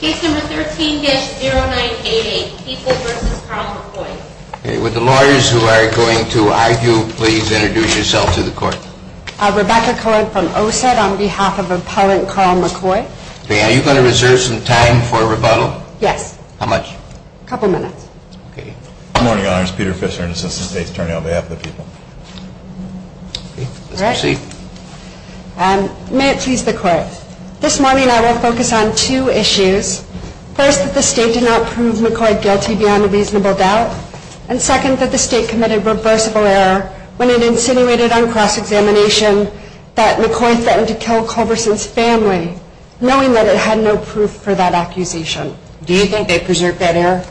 Case number 13-0988, People v. Carl McCoy. Would the lawyers who are going to argue please introduce yourselves to the court. Rebecca Cohen from OSET on behalf of Appellant Carl McCoy. Are you going to reserve some time for rebuttal? Yes. How much? A couple minutes. Good morning, Your Honors. Peter Fischer, Assistant State Attorney on behalf of the People. Let's proceed. May it please the Court. This morning I will focus on two issues. First, that the State did not prove McCoy guilty beyond a reasonable doubt. And second, that the State committed reversible error when it insinuated on cross-examination that McCoy threatened to kill Culverson's family, knowing that it had no proof for that accusation. Do you think they preserved that error?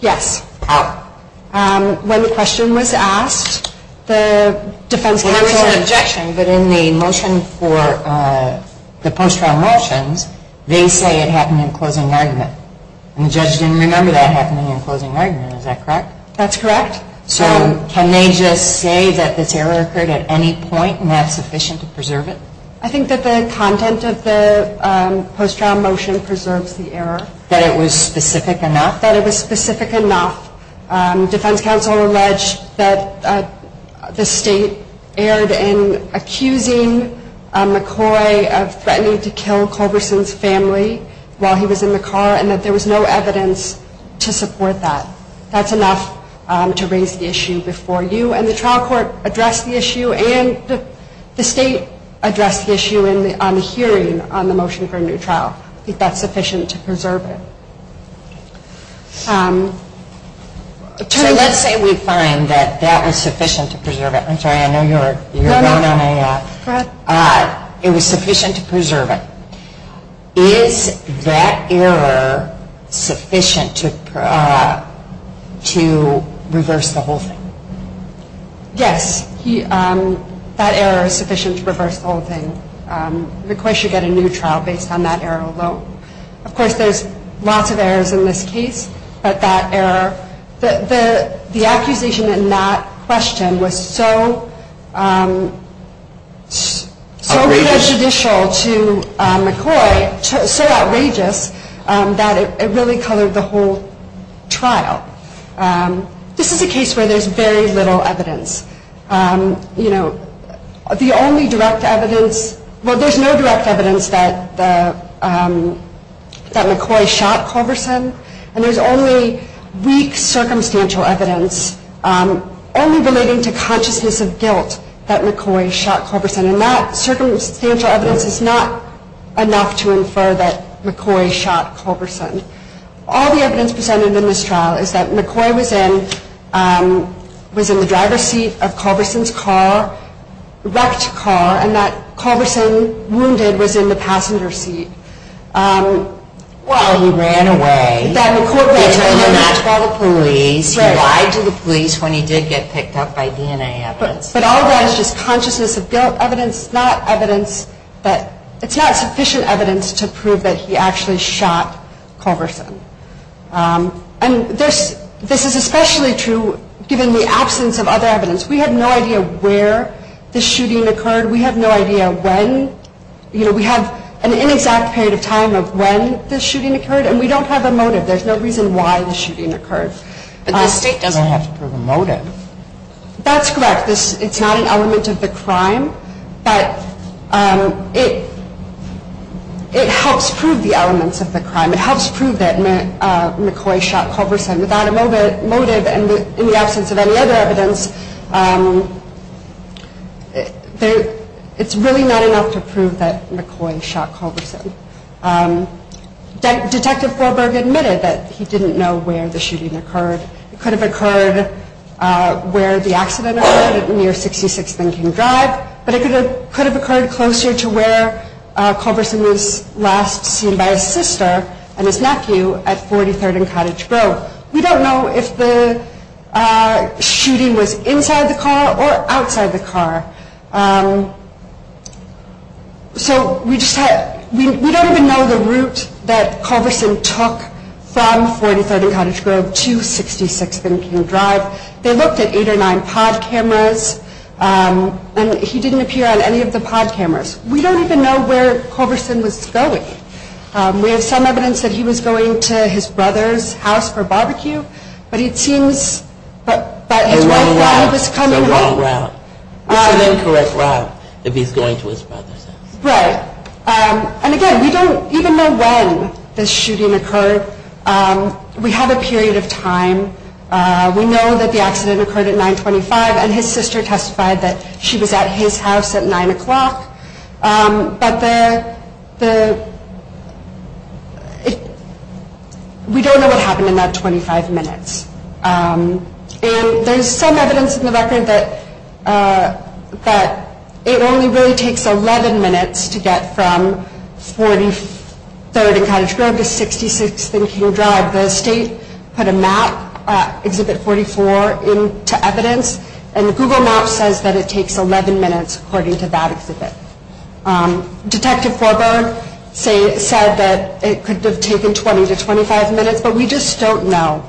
Yes. How? When the question was asked, the defense counsel... But in the motion for the post-trial motions, they say it happened in closing argument. And the judge didn't remember that happening in closing argument. Is that correct? That's correct. So can they just say that this error occurred at any point and that's sufficient to preserve it? I think that the content of the post-trial motion preserves the error. That it was specific enough? That it was specific enough. Defense counsel alleged that the State erred in accusing McCoy of threatening to kill Culverson's family while he was in the car and that there was no evidence to support that. That's enough to raise the issue before you. And the trial court addressed the issue and the State addressed the issue on the hearing on the motion for a new trial. I think that's sufficient to preserve it. So let's say we find that that was sufficient to preserve it. I'm sorry, I know you're going on AF. It was sufficient to preserve it. Is that error sufficient to reverse the whole thing? Yes. That error is sufficient to reverse the whole thing. McCoy should get a new trial based on that error alone. Of course, there's lots of errors in this case. But that error, the accusation in that question was so prejudicial to McCoy, so outrageous, that it really colored the whole trial. This is a case where there's very little evidence. You know, the only direct evidence, well, there's no direct evidence that McCoy shot Culverson. And there's only weak circumstantial evidence only relating to consciousness of guilt that McCoy shot Culverson. And that circumstantial evidence is not enough to infer that McCoy shot Culverson. All the evidence presented in this trial is that McCoy was in the driver's seat of Culverson's car, wrecked car, and that Culverson, wounded, was in the passenger seat. Well, he ran away. He turned him out to all the police. He lied to the police when he did get picked up by DNA evidence. But all that is just consciousness of guilt evidence, not evidence that – And this is especially true given the absence of other evidence. We have no idea where the shooting occurred. We have no idea when. You know, we have an inexact period of time of when the shooting occurred, and we don't have a motive. There's no reason why the shooting occurred. But the state doesn't have to prove a motive. That's correct. It's not an element of the crime. But it helps prove the elements of the crime. It helps prove that McCoy shot Culverson without a motive and in the absence of any other evidence. It's really not enough to prove that McCoy shot Culverson. Detective Forberg admitted that he didn't know where the shooting occurred. It could have occurred where the accident occurred at near 66 Lincoln Drive, but it could have occurred closer to where Culverson was last seen by his sister and his nephew at 43rd and Cottage Grove. We don't know if the shooting was inside the car or outside the car. So we don't even know the route that Culverson took from 43rd and Cottage Grove to 66 Lincoln Drive. They looked at eight or nine pod cameras. And he didn't appear on any of the pod cameras. We don't even know where Culverson was going. We have some evidence that he was going to his brother's house for barbecue, but it seems that his wife thought he was coming home. It's a wrong route. It's an incorrect route if he's going to his brother's house. Right. And, again, we don't even know when the shooting occurred. We have a period of time. We know that the accident occurred at 925, and his sister testified that she was at his house at 9 o'clock. But we don't know what happened in that 25 minutes. And there's some evidence in the record that it only really takes 11 minutes to get from 43rd and Cottage Grove to 66th and King Drive. The state put a map, Exhibit 44, into evidence, and Google Maps says that it takes 11 minutes according to that exhibit. Detective Forberg said that it could have taken 20 to 25 minutes, but we just don't know.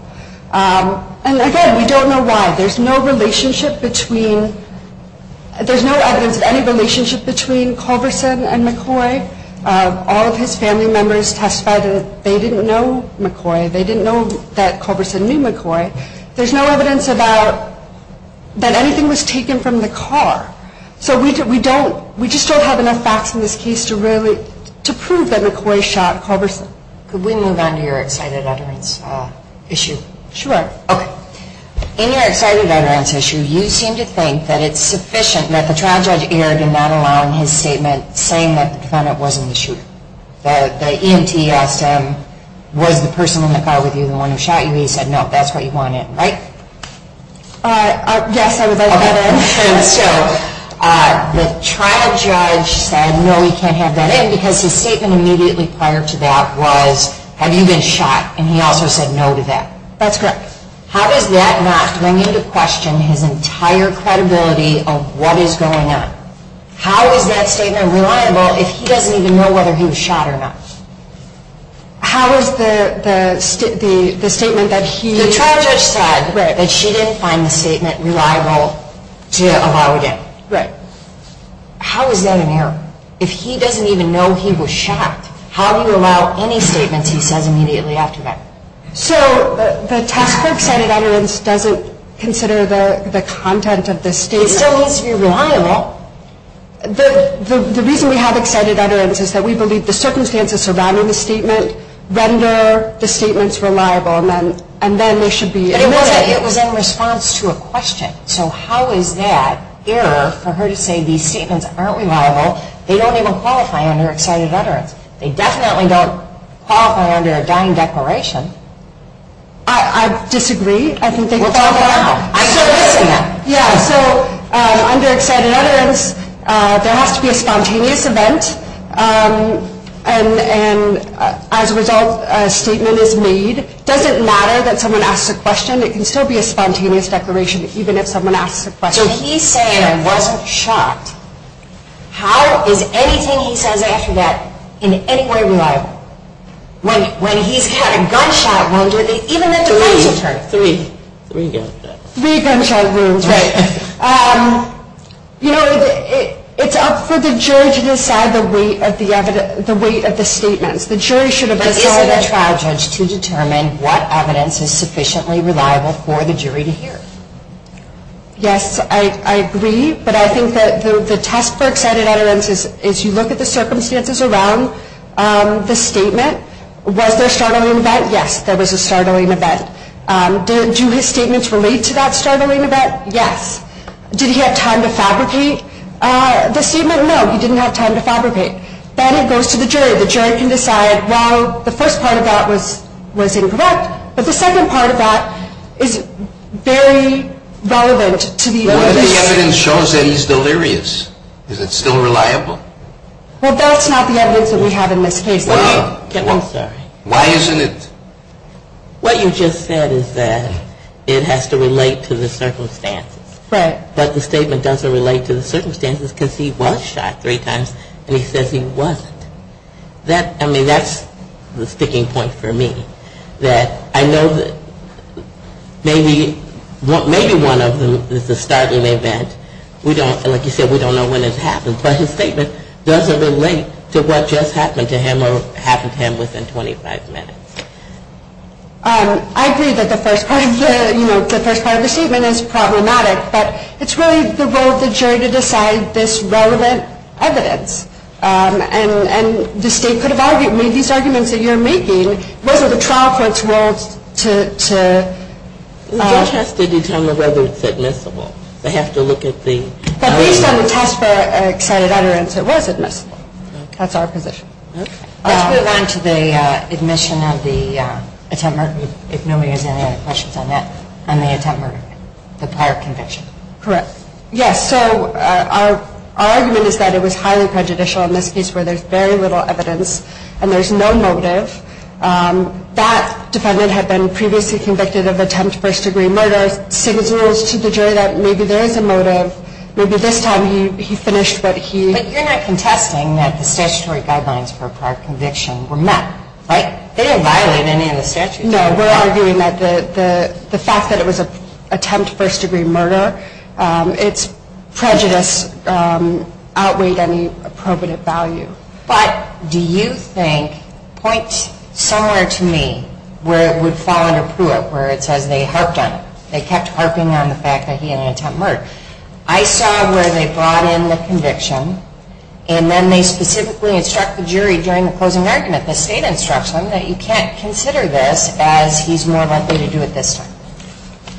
And, again, we don't know why. There's no relationship between – there's no evidence of any relationship between Culverson and McCoy. All of his family members testified that they didn't know McCoy. They didn't know that Culverson knew McCoy. There's no evidence about – that anything was taken from the car. So we don't – we just don't have enough facts in this case to really – to prove that McCoy shot Culverson. Could we move on to your excited utterance issue? Sure. Okay. In your excited utterance issue, you seem to think that it's sufficient that the trial judge erred in not allowing his statement saying that the defendant wasn't the shooter. The EMT asked him, was the person in the car with you the one who shot you? He said, no, that's what you want in, right? Yes, I would like that in. And so the trial judge said, no, he can't have that in because his statement immediately prior to that was, have you been shot? And he also said no to that. That's correct. How does that not bring into question his entire credibility of what is going on? How is that statement reliable if he doesn't even know whether he was shot or not? How is the statement that he – The trial judge said that she didn't find the statement reliable to allow it in. Right. How is that an error? If he doesn't even know he was shot, how do you allow any statements he says immediately after that? So the task for excited utterance doesn't consider the content of the statement. It still needs to be reliable. The reason we have excited utterance is that we believe the circumstances surrounding the statement render the statements reliable and then they should be admitted. But it was in response to a question. So how is that error for her to say these statements aren't reliable? They don't even qualify under excited utterance. They definitely don't qualify under a dying declaration. I disagree. What's wrong now? I'm still listening. Yeah, so under excited utterance there has to be a spontaneous event and as a result a statement is made. It doesn't matter that someone asks a question. It can still be a spontaneous declaration even if someone asks a question. So he's saying I wasn't shot. How is anything he says after that in any way reliable? When he's had a gunshot wound or even the defense attorney. Three. Three gunshot wounds, right. You know, it's up for the jury to decide the weight of the statements. The jury should have decided. But isn't a trial judge to determine what evidence is sufficiently reliable for the jury to hear? Yes, I agree. But I think that the test for excited utterance is you look at the circumstances around the statement. Was there a startling event? Yes, there was a startling event. Do his statements relate to that startling event? Yes. Did he have time to fabricate the statement? No, he didn't have time to fabricate. Then it goes to the jury. The jury can decide, well, the first part of that was incorrect. But the second part of that is very relevant to the evidence. What if the evidence shows that he's delirious? Is it still reliable? Well, that's not the evidence that we have in this case. I'm sorry. Why isn't it? What you just said is that it has to relate to the circumstances. Right. But the statement doesn't relate to the circumstances because he was shot three times and he says he wasn't. I mean, that's the sticking point for me. That I know that maybe one of them is the startling event. Like you said, we don't know when it happened. But his statement doesn't relate to what just happened to him or happened to him within 25 minutes. I agree that the first part of the statement is problematic. But it's really the role of the jury to decide this relevant evidence. And the State could have made these arguments that you're making. It wasn't the trial court's role to The judge has to determine whether it's admissible. They have to look at the But based on the test for excited utterance, it was admissible. That's our position. Let's move on to the admission of the attempt murder, if nobody has any other questions on that, on the attempt murder, the prior conviction. Correct. Yes. So our argument is that it was highly prejudicial in this case where there's very little evidence. And there's no motive. That defendant had been previously convicted of attempt first-degree murder. Signals to the jury that maybe there is a motive. Maybe this time he finished what he But you're not contesting that the statutory guidelines for prior conviction were met, right? They didn't violate any of the statutes. No, we're arguing that the fact that it was an attempt first-degree murder, its prejudice outweighed any probative value. But do you think, point somewhere to me, where it would fall under Pruitt, where it says they harped on it. They kept harping on the fact that he had an attempt murder. I saw where they brought in the conviction, and then they specifically instruct the jury during the closing argument, the state instruction, that you can't consider this as he's more likely to do it this time.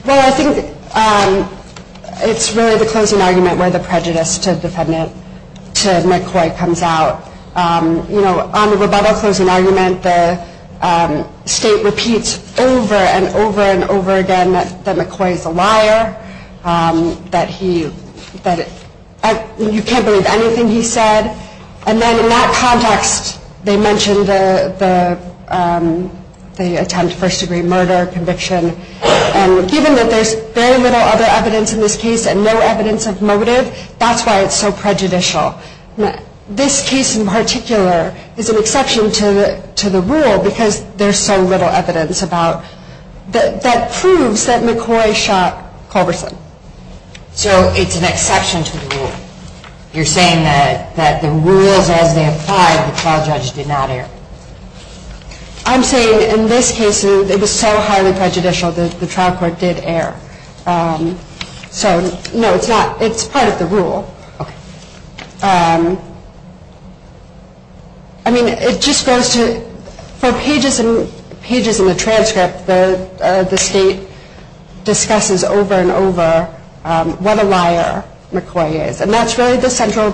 Well, I think it's really the closing argument where the prejudice to McCoy comes out. You know, on the rebuttal closing argument, the state repeats over and over and over again that McCoy is a liar, that you can't believe anything he said. And then in that context, they mentioned the attempt first-degree murder conviction. And given that there's very little other evidence in this case and no evidence of motive, that's why it's so prejudicial. This case in particular is an exception to the rule, because there's so little evidence that proves that McCoy shot Culberson. So it's an exception to the rule. You're saying that the rules as they apply, the trial judge did not err. I'm saying in this case, it was so highly prejudicial that the trial court did err. So, no, it's not. It's part of the rule. I mean, it just goes to, for pages and pages in the transcript, the state discusses over and over what a liar McCoy is. And that's really the central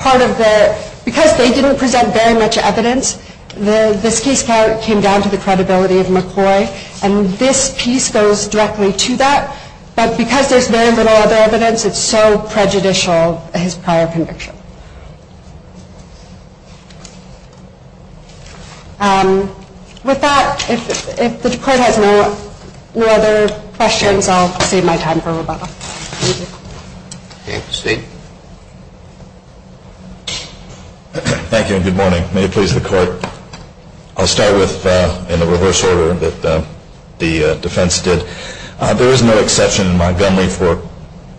part of the, because they didn't present very much evidence, this case came down to the credibility of McCoy. And this piece goes directly to that. But because there's very little other evidence, it's so prejudicial, his prior conviction. With that, if the court has no other questions, I'll save my time for Rebecca. Thank you. Thank you, and good morning. May it please the court. I'll start with, in the reverse order that the defense did, there is no exception in Montgomery for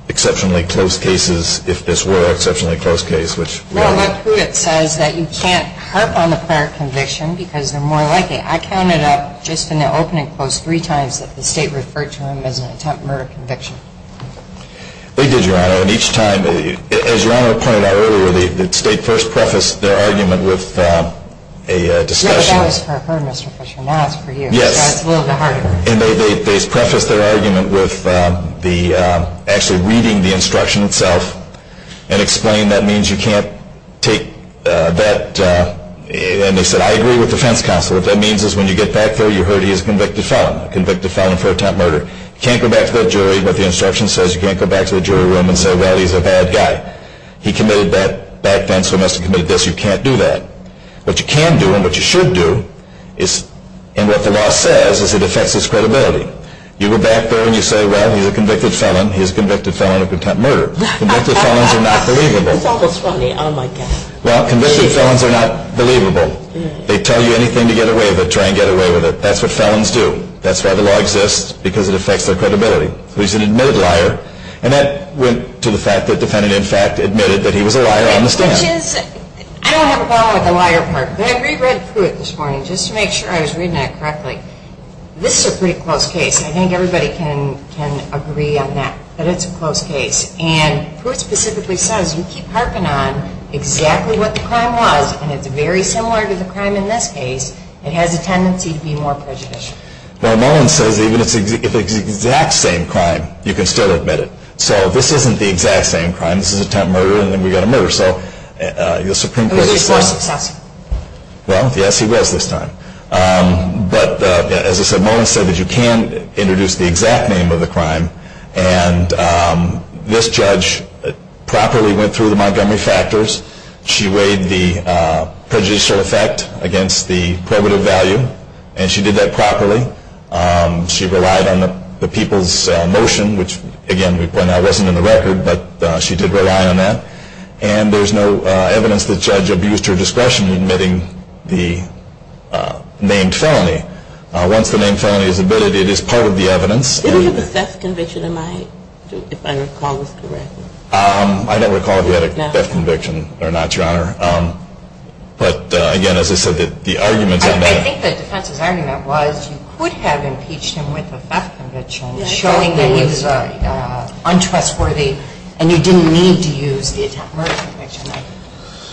exceptionally close cases, if this were an exceptionally close case. Well, what Pruitt says is that you can't harp on the prior conviction because they're more likely. I counted up, just in the opening post, three times that the state referred to him as an attempt murder conviction. They did, Your Honor. And each time, as Your Honor pointed out earlier, the state first prefaced their argument with a discussion. Yeah, but that was for her, Mr. Fisher. Now it's for you. Yes. So it's a little bit harder. And they prefaced their argument with actually reading the instruction itself and explained that means you can't take that. And they said, I agree with the defense counsel. What that means is when you get back there, you heard he is a convicted felon, a convicted felon for attempt murder. You can't go back to that jury, what the instruction says. You can't go back to the jury room and say, well, he's a bad guy. He committed that back then, so he must have committed this. You can't do that. What you can do and what you should do is, and what the law says is it affects his credibility. You go back there and you say, well, he's a convicted felon. He's a convicted felon of attempt murder. Convicted felons are not believable. That's almost funny. Oh, my God. Well, convicted felons are not believable. They tell you anything to get away with it. Try and get away with it. That's what felons do. That's why the law exists, because it affects their credibility. So he's an admitted liar. And that went to the fact that the defendant, in fact, admitted that he was a liar on the stand. Which is, I don't have a problem with the liar part, but I reread Pruitt this morning, just to make sure I was reading that correctly. This is a pretty close case. I think everybody can agree on that, but it's a close case. And Pruitt specifically says you keep harping on exactly what the crime was, and it's very similar to the crime in this case. It has a tendency to be more prejudicial. Well, no one says even if it's the exact same crime, you can still admit it. So this isn't the exact same crime. This is attempt murder, and then we got a murder. Well, yes, he was this time. But as I said, Mullins said that you can introduce the exact name of the crime, and this judge properly went through the Montgomery factors. She weighed the prejudicial effect against the probative value, and she did that properly. She relied on the people's motion, which, again, by now wasn't in the record, but she did rely on that. And there's no evidence that the judge abused her discretion in admitting the named felony. Once the named felony is admitted, it is part of the evidence. Did he have a theft conviction, if I recall this correctly? I don't recall if he had a theft conviction or not, Your Honor. But, again, as I said, the arguments in that. I think the defense's argument was you could have impeached him with a theft conviction, showing that he was untrustworthy, and you didn't need to use the attempt murder conviction.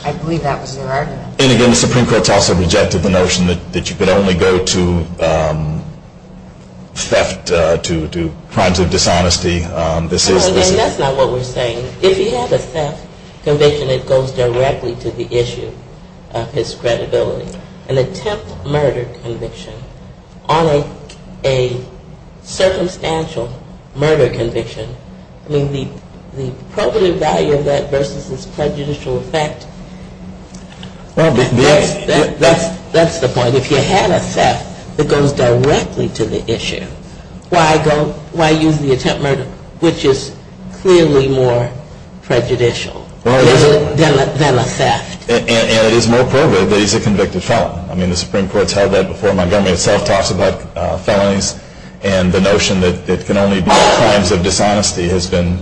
I believe that was their argument. And, again, the Supreme Court's also rejected the notion that you could only go to theft, to crimes of dishonesty. That's not what we're saying. If he had a theft conviction, it goes directly to the issue of his credibility. An attempt murder conviction on a circumstantial murder conviction, I mean, the probative value of that versus his prejudicial effect, that's the point. If he had a theft, it goes directly to the issue. Why use the attempt murder, which is clearly more prejudicial than a theft? And it is more probative that he's a convicted felon. I mean, the Supreme Court's held that before. Montgomery itself talks about felonies and the notion that it can only be crimes of dishonesty has been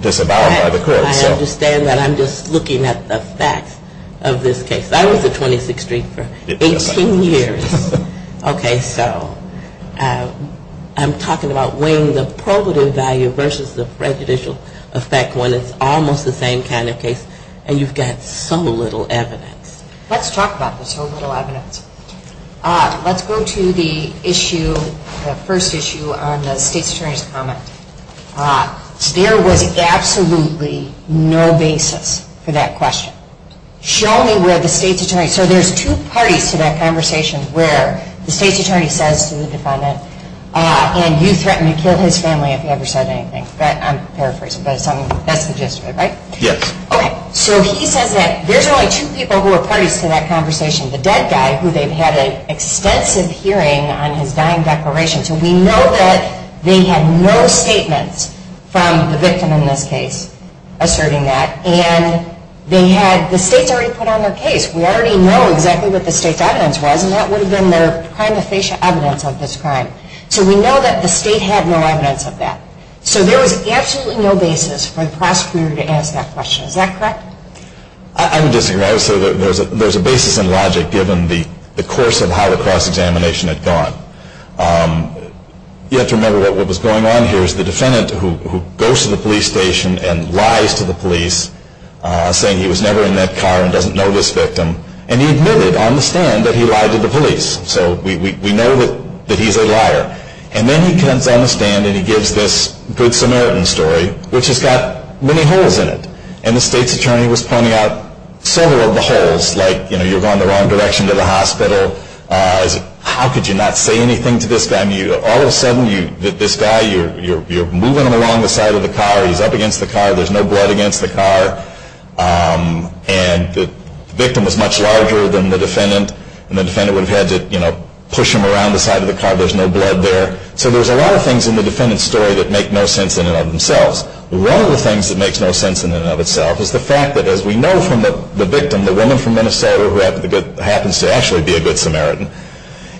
disavowed by the court. I understand that. I'm just looking at the facts of this case. I was at 26th Street for 18 years. Okay, so I'm talking about weighing the probative value versus the prejudicial effect when it's almost the same kind of case. And you've got so little evidence. Let's talk about the so little evidence. Let's go to the issue, the first issue on the state's attorney's comment. There was absolutely no basis for that question. So there's two parties to that conversation where the state's attorney says to the defendant, and you threatened to kill his family if you ever said anything. I'm paraphrasing, but that's the gist of it, right? Yes. Okay, so he says that there's only two people who are parties to that conversation. The dead guy, who they've had an extensive hearing on his dying declaration. So we know that they had no statements from the victim in this case asserting that. And they had, the state's already put on their case. We already know exactly what the state's evidence was, and that would have been their prima facie evidence of this crime. So we know that the state had no evidence of that. So there was absolutely no basis for the prosecutor to ask that question. Is that correct? I would disagree. There's a basis in logic given the course of how the cross-examination had gone. You have to remember what was going on here. It was the defendant who goes to the police station and lies to the police, saying he was never in that car and doesn't know this victim. And he admitted on the stand that he lied to the police. So we know that he's a liar. And then he comes on the stand and he gives this Good Samaritan story, which has got many holes in it. And the state's attorney was pointing out several of the holes. Like, you know, you're going the wrong direction to the hospital. How could you not say anything to this guy? All of a sudden, this guy, you're moving him along the side of the car. He's up against the car. There's no blood against the car. And the victim was much larger than the defendant. And the defendant would have had to, you know, push him around the side of the car. There's no blood there. So there's a lot of things in the defendant's story that make no sense in and of themselves. One of the things that makes no sense in and of itself is the fact that, as we know from the victim, the woman from Minnesota who happens to actually be a Good Samaritan,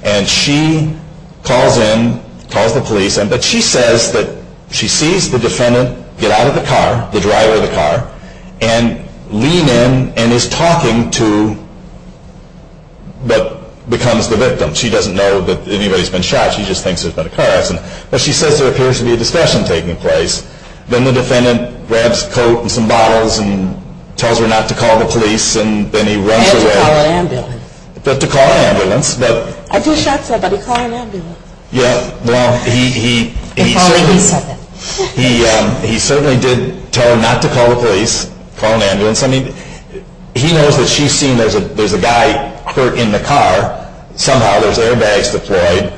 and she calls in, calls the police. But she says that she sees the defendant get out of the car, the driver of the car, and lean in and is talking to what becomes the victim. She doesn't know that anybody's been shot. She just thinks there's been a car accident. But she says there appears to be a discussion taking place. Then the defendant grabs a coat and some bottles and tells her not to call the police. And then he runs away. I had to call an ambulance. But to call an ambulance. I just shot somebody. Call an ambulance. Yeah, well, he certainly did tell her not to call the police, call an ambulance. I mean, he knows that she's seen there's a guy hurt in the car. Somehow there's airbags deployed.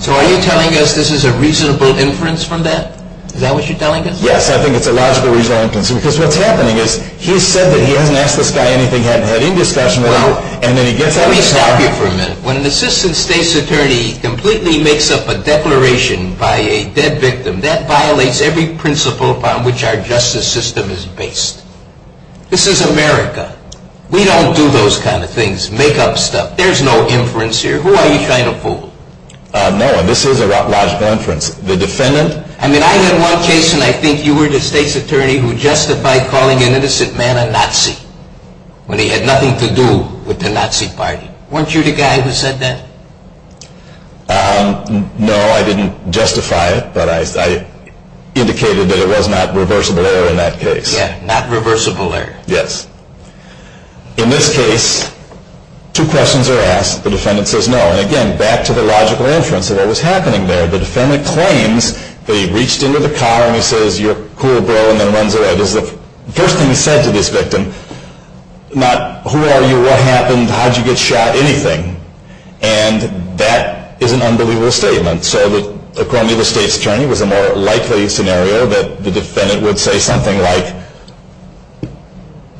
So are you telling us this is a reasonable inference from that? Is that what you're telling us? Yes, I think it's a logical inference. Because what's happening is he's said that he hasn't asked this guy anything, hasn't had any discussion with him, and then he gets out of the car. Let me stop you for a minute. When an assistant state's attorney completely makes up a declaration by a dead victim, that violates every principle upon which our justice system is based. This is America. We don't do those kind of things, make-up stuff. There's no inference here. Who are you trying to fool? No, this is a logical inference. The defendant... I mean, I had one case when I think you were the state's attorney who justified calling an innocent man a Nazi when he had nothing to do with the Nazi party. Weren't you the guy who said that? No, I didn't justify it, but I indicated that it was not reversible error in that case. Yeah, not reversible error. Yes. In this case, two questions are asked. The defendant says no. And, again, back to the logical inference of what was happening there. The defendant claims that he reached into the car and he says, you're cool, bro, and then runs away. This is the first thing he said to this victim. Not who are you, what happened, how'd you get shot, anything. And that is an unbelievable statement. So according to the state's attorney, it was a more likely scenario that the defendant would say something like,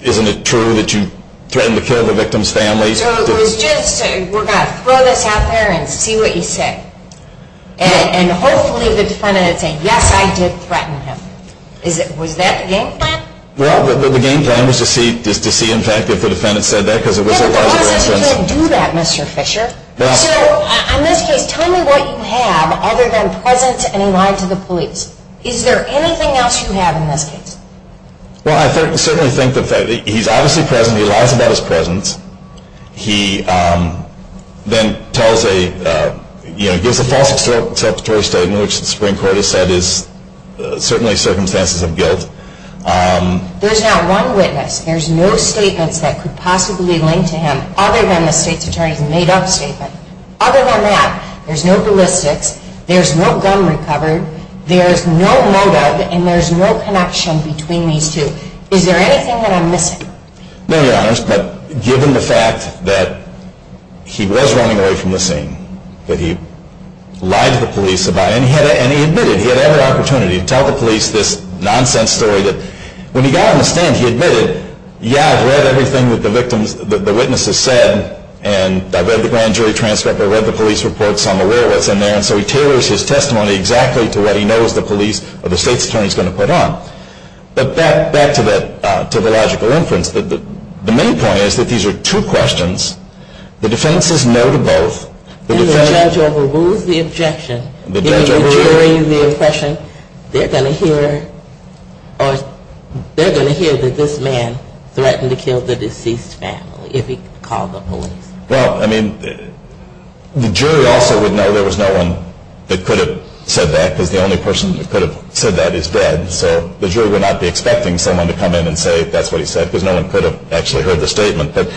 isn't it true that you threatened to kill the victim's family? So it was just, we're going to throw this out there and see what you say. And hopefully the defendant would say, yes, I did threaten him. Was that the game plan? Well, the game plan was to see, in fact, if the defendant said that because it was a reversible instance. Yeah, but the person can't do that, Mr. Fisher. So, in this case, tell me what you have other than presence and he lied to the police. Is there anything else you have in this case? Well, I certainly think that he's obviously present. He lies about his presence. He then tells a, you know, gives a false exceptory statement, which the Supreme Court has said is certainly circumstances of guilt. There's not one witness. There's no statements that could possibly link to him other than the state's attorney's made-up statement. Other than that, there's no ballistics, there's no gun recovered, there's no motive, and there's no connection between these two. Is there anything that I'm missing? No, Your Honors, but given the fact that he was running away from the scene, that he lied to the police about it, and he admitted he had every opportunity to tell the police this nonsense story, that when he got on the stand, he admitted, yeah, I've read everything that the witness has said, and I've read the grand jury transcript, I've read the police reports, I'm aware of what's in there, and so he tailors his testimony exactly to what he knows the police or the state's attorney's going to put on. But back to the logical inference. The main point is that these are two questions. The defendant says no to both. And the judge overrules the objection, giving the jury the impression they're going to hear that this man threatened to kill the deceased family if he called the police. Well, I mean, the jury also would know there was no one that could have said that because the only person that could have said that is dead. So the jury would not be expecting someone to come in and say that's what he said because no one could have actually heard the statement. But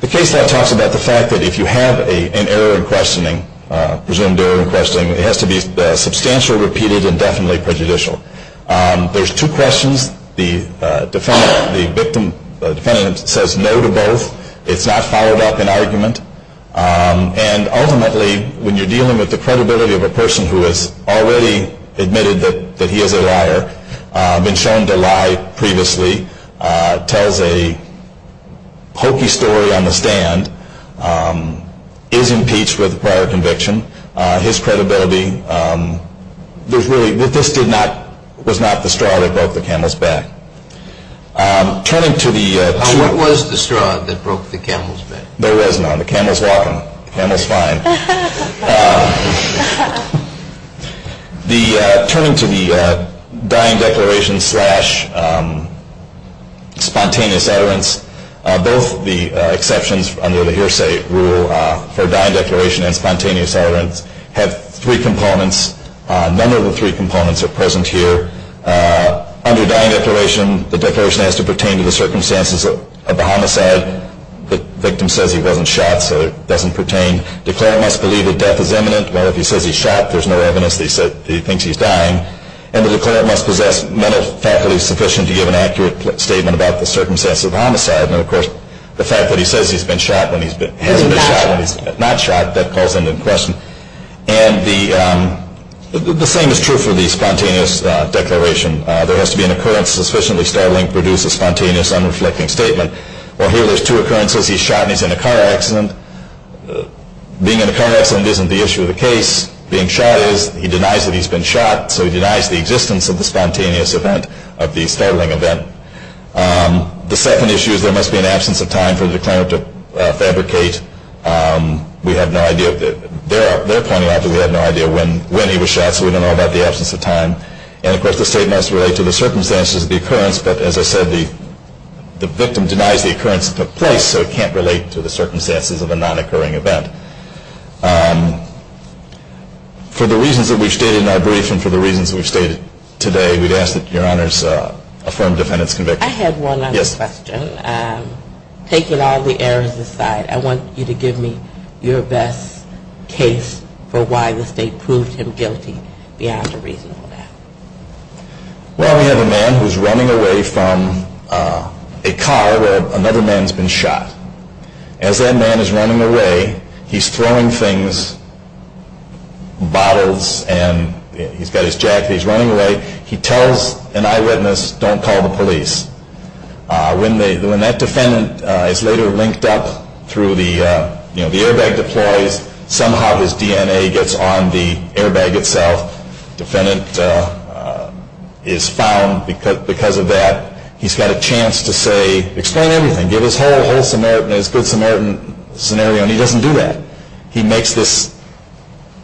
the case law talks about the fact that if you have an error in questioning, presumed error in questioning, it has to be substantial, repeated, and definitely prejudicial. There's two questions. The defendant says no to both. It's not followed up in argument. And ultimately, when you're dealing with the credibility of a person who has already admitted that he is a liar, been shown to lie previously, tells a hokey story on the stand, is impeached with a prior conviction, his credibility, this really was not the straw that broke the camel's back. Now, what was the straw that broke the camel's back? There was none. The camel's walking. The camel's fine. Turning to the dying declaration slash spontaneous utterance, both the exceptions under the hearsay rule for dying declaration and spontaneous utterance have three components. None of the three components are present here. Under dying declaration, the declaration has to pertain to the circumstances of the homicide. The victim says he wasn't shot, so it doesn't pertain. Declarant must believe that death is imminent. Well, if he says he's shot, there's no evidence that he thinks he's dying. And the declarant must possess mental faculties sufficient to give an accurate statement about the circumstances of homicide. And, of course, the fact that he says he's been shot when he hasn't been shot when he's not shot, that calls into question. And the same is true for the spontaneous declaration. There has to be an occurrence sufficiently startling to produce a spontaneous, unreflecting statement. Well, here there's two occurrences. He's shot and he's in a car accident. Being in a car accident isn't the issue of the case. Being shot is. He denies that he's been shot, so he denies the existence of the spontaneous event of the startling event. The second issue is there must be an absence of time for the declarant to fabricate. We have no idea. They're pointing out that we have no idea when he was shot, so we don't know about the absence of time. And, of course, the statement must relate to the circumstances of the occurrence. But, as I said, the victim denies the occurrence that took place, so it can't relate to the circumstances of a non-occurring event. For the reasons that we've stated in our brief and for the reasons we've stated today, we'd ask that Your Honors affirm defendant's conviction. I had one other question. Yes. Taking all the errors aside, I want you to give me your best case for why the state proved him guilty beyond a reasonable doubt. Well, we have a man who's running away from a car where another man's been shot. As that man is running away, he's throwing things, bottles, and he's got his jacket. He's running away. He tells an eyewitness, don't call the police. When that defendant is later linked up through the airbag deploys, somehow his DNA gets on the airbag itself. Defendant is found because of that. He's got a chance to say, explain everything, give his whole good Samaritan scenario, and he doesn't do that. He makes this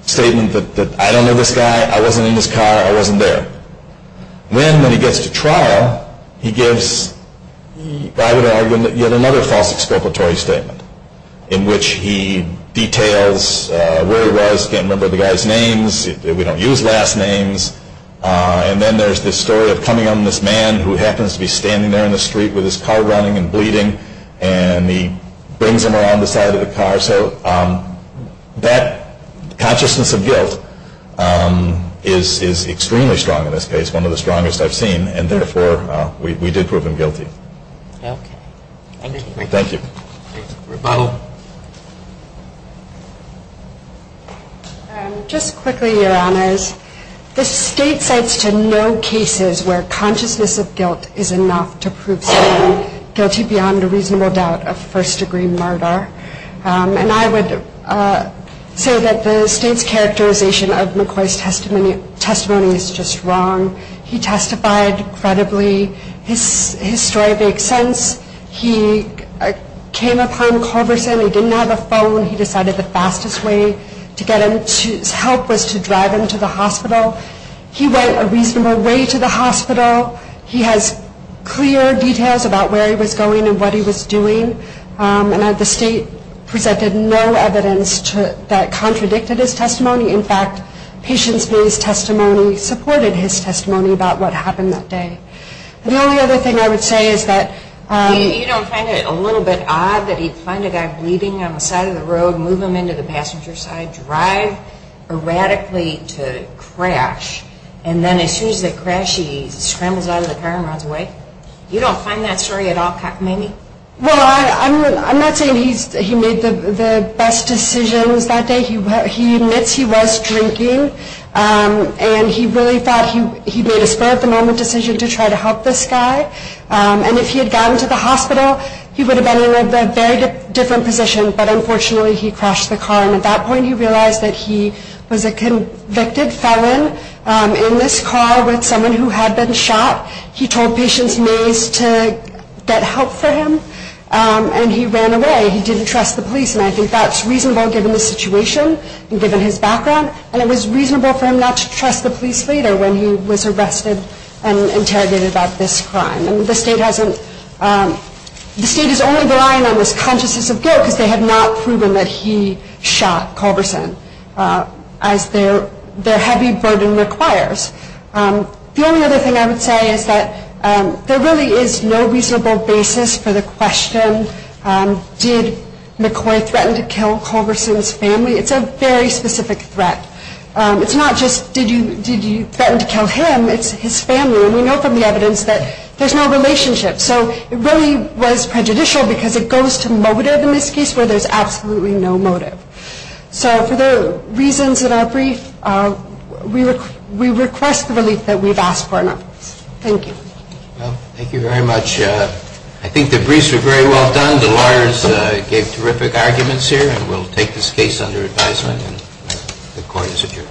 statement that I don't know this guy, I wasn't in his car, I wasn't there. Then when he gets to trial, he gives, I would argue, yet another false expropriatory statement in which he details where he was, can't remember the guy's names, we don't use last names, and then there's this story of coming on this man who happens to be standing there in the street with his car running and bleeding, and he brings him around the side of the car. So that consciousness of guilt is extremely strong in this case, one of the strongest I've seen, and therefore we did prove him guilty. Thank you. Thank you. Rebuttal. Just quickly, your honors, the state cites to no cases where consciousness of guilt is enough to prove someone guilty beyond a reasonable doubt of first-degree murder. And I would say that the state's characterization of McCoy's testimony is just wrong. He testified credibly. His story makes sense. He came upon Culverson. He didn't have a phone. He decided the fastest way to get his help was to drive him to the hospital. He went a reasonable way to the hospital. He has clear details about where he was going and what he was doing, and the state presented no evidence that contradicted his testimony. In fact, patient's base testimony supported his testimony about what happened that day. The only other thing I would say is that... You don't find it a little bit odd that he'd find a guy bleeding on the side of the road, move him into the passenger side, drive erratically to crash, and then as soon as they crash, he scrambles out of the car and runs away? You don't find that story at all, maybe? Well, I'm not saying he made the best decisions that day. He admits he was drinking, and he really thought he made a spur-of-the-moment decision to try to help this guy. And if he had gotten to the hospital, he would have been in a very different position. But unfortunately, he crashed the car, and at that point he realized that he was a convicted felon in this car with someone who had been shot. He told patient's maze to get help for him, and he ran away. He didn't trust the police, and I think that's reasonable given the situation and given his background, and it was reasonable for him not to trust the police later when he was arrested and interrogated about this crime. The state is only relying on this consciousness of guilt because they have not proven that he shot Culberson, as their heavy burden requires. The only other thing I would say is that there really is no reasonable basis for the question, did McCoy threaten to kill Culberson's family? It's a very specific threat. It's not just, did you threaten to kill him? It's his family, and we know from the evidence that there's no relationship. So it really was prejudicial because it goes to motive in this case where there's absolutely no motive. So for the reasons in our brief, we request the relief that we've asked for in our briefs. Thank you. Well, thank you very much. I think the briefs were very well done. The lawyers gave terrific arguments here, and we'll take this case under advisement, and the court is adjourned.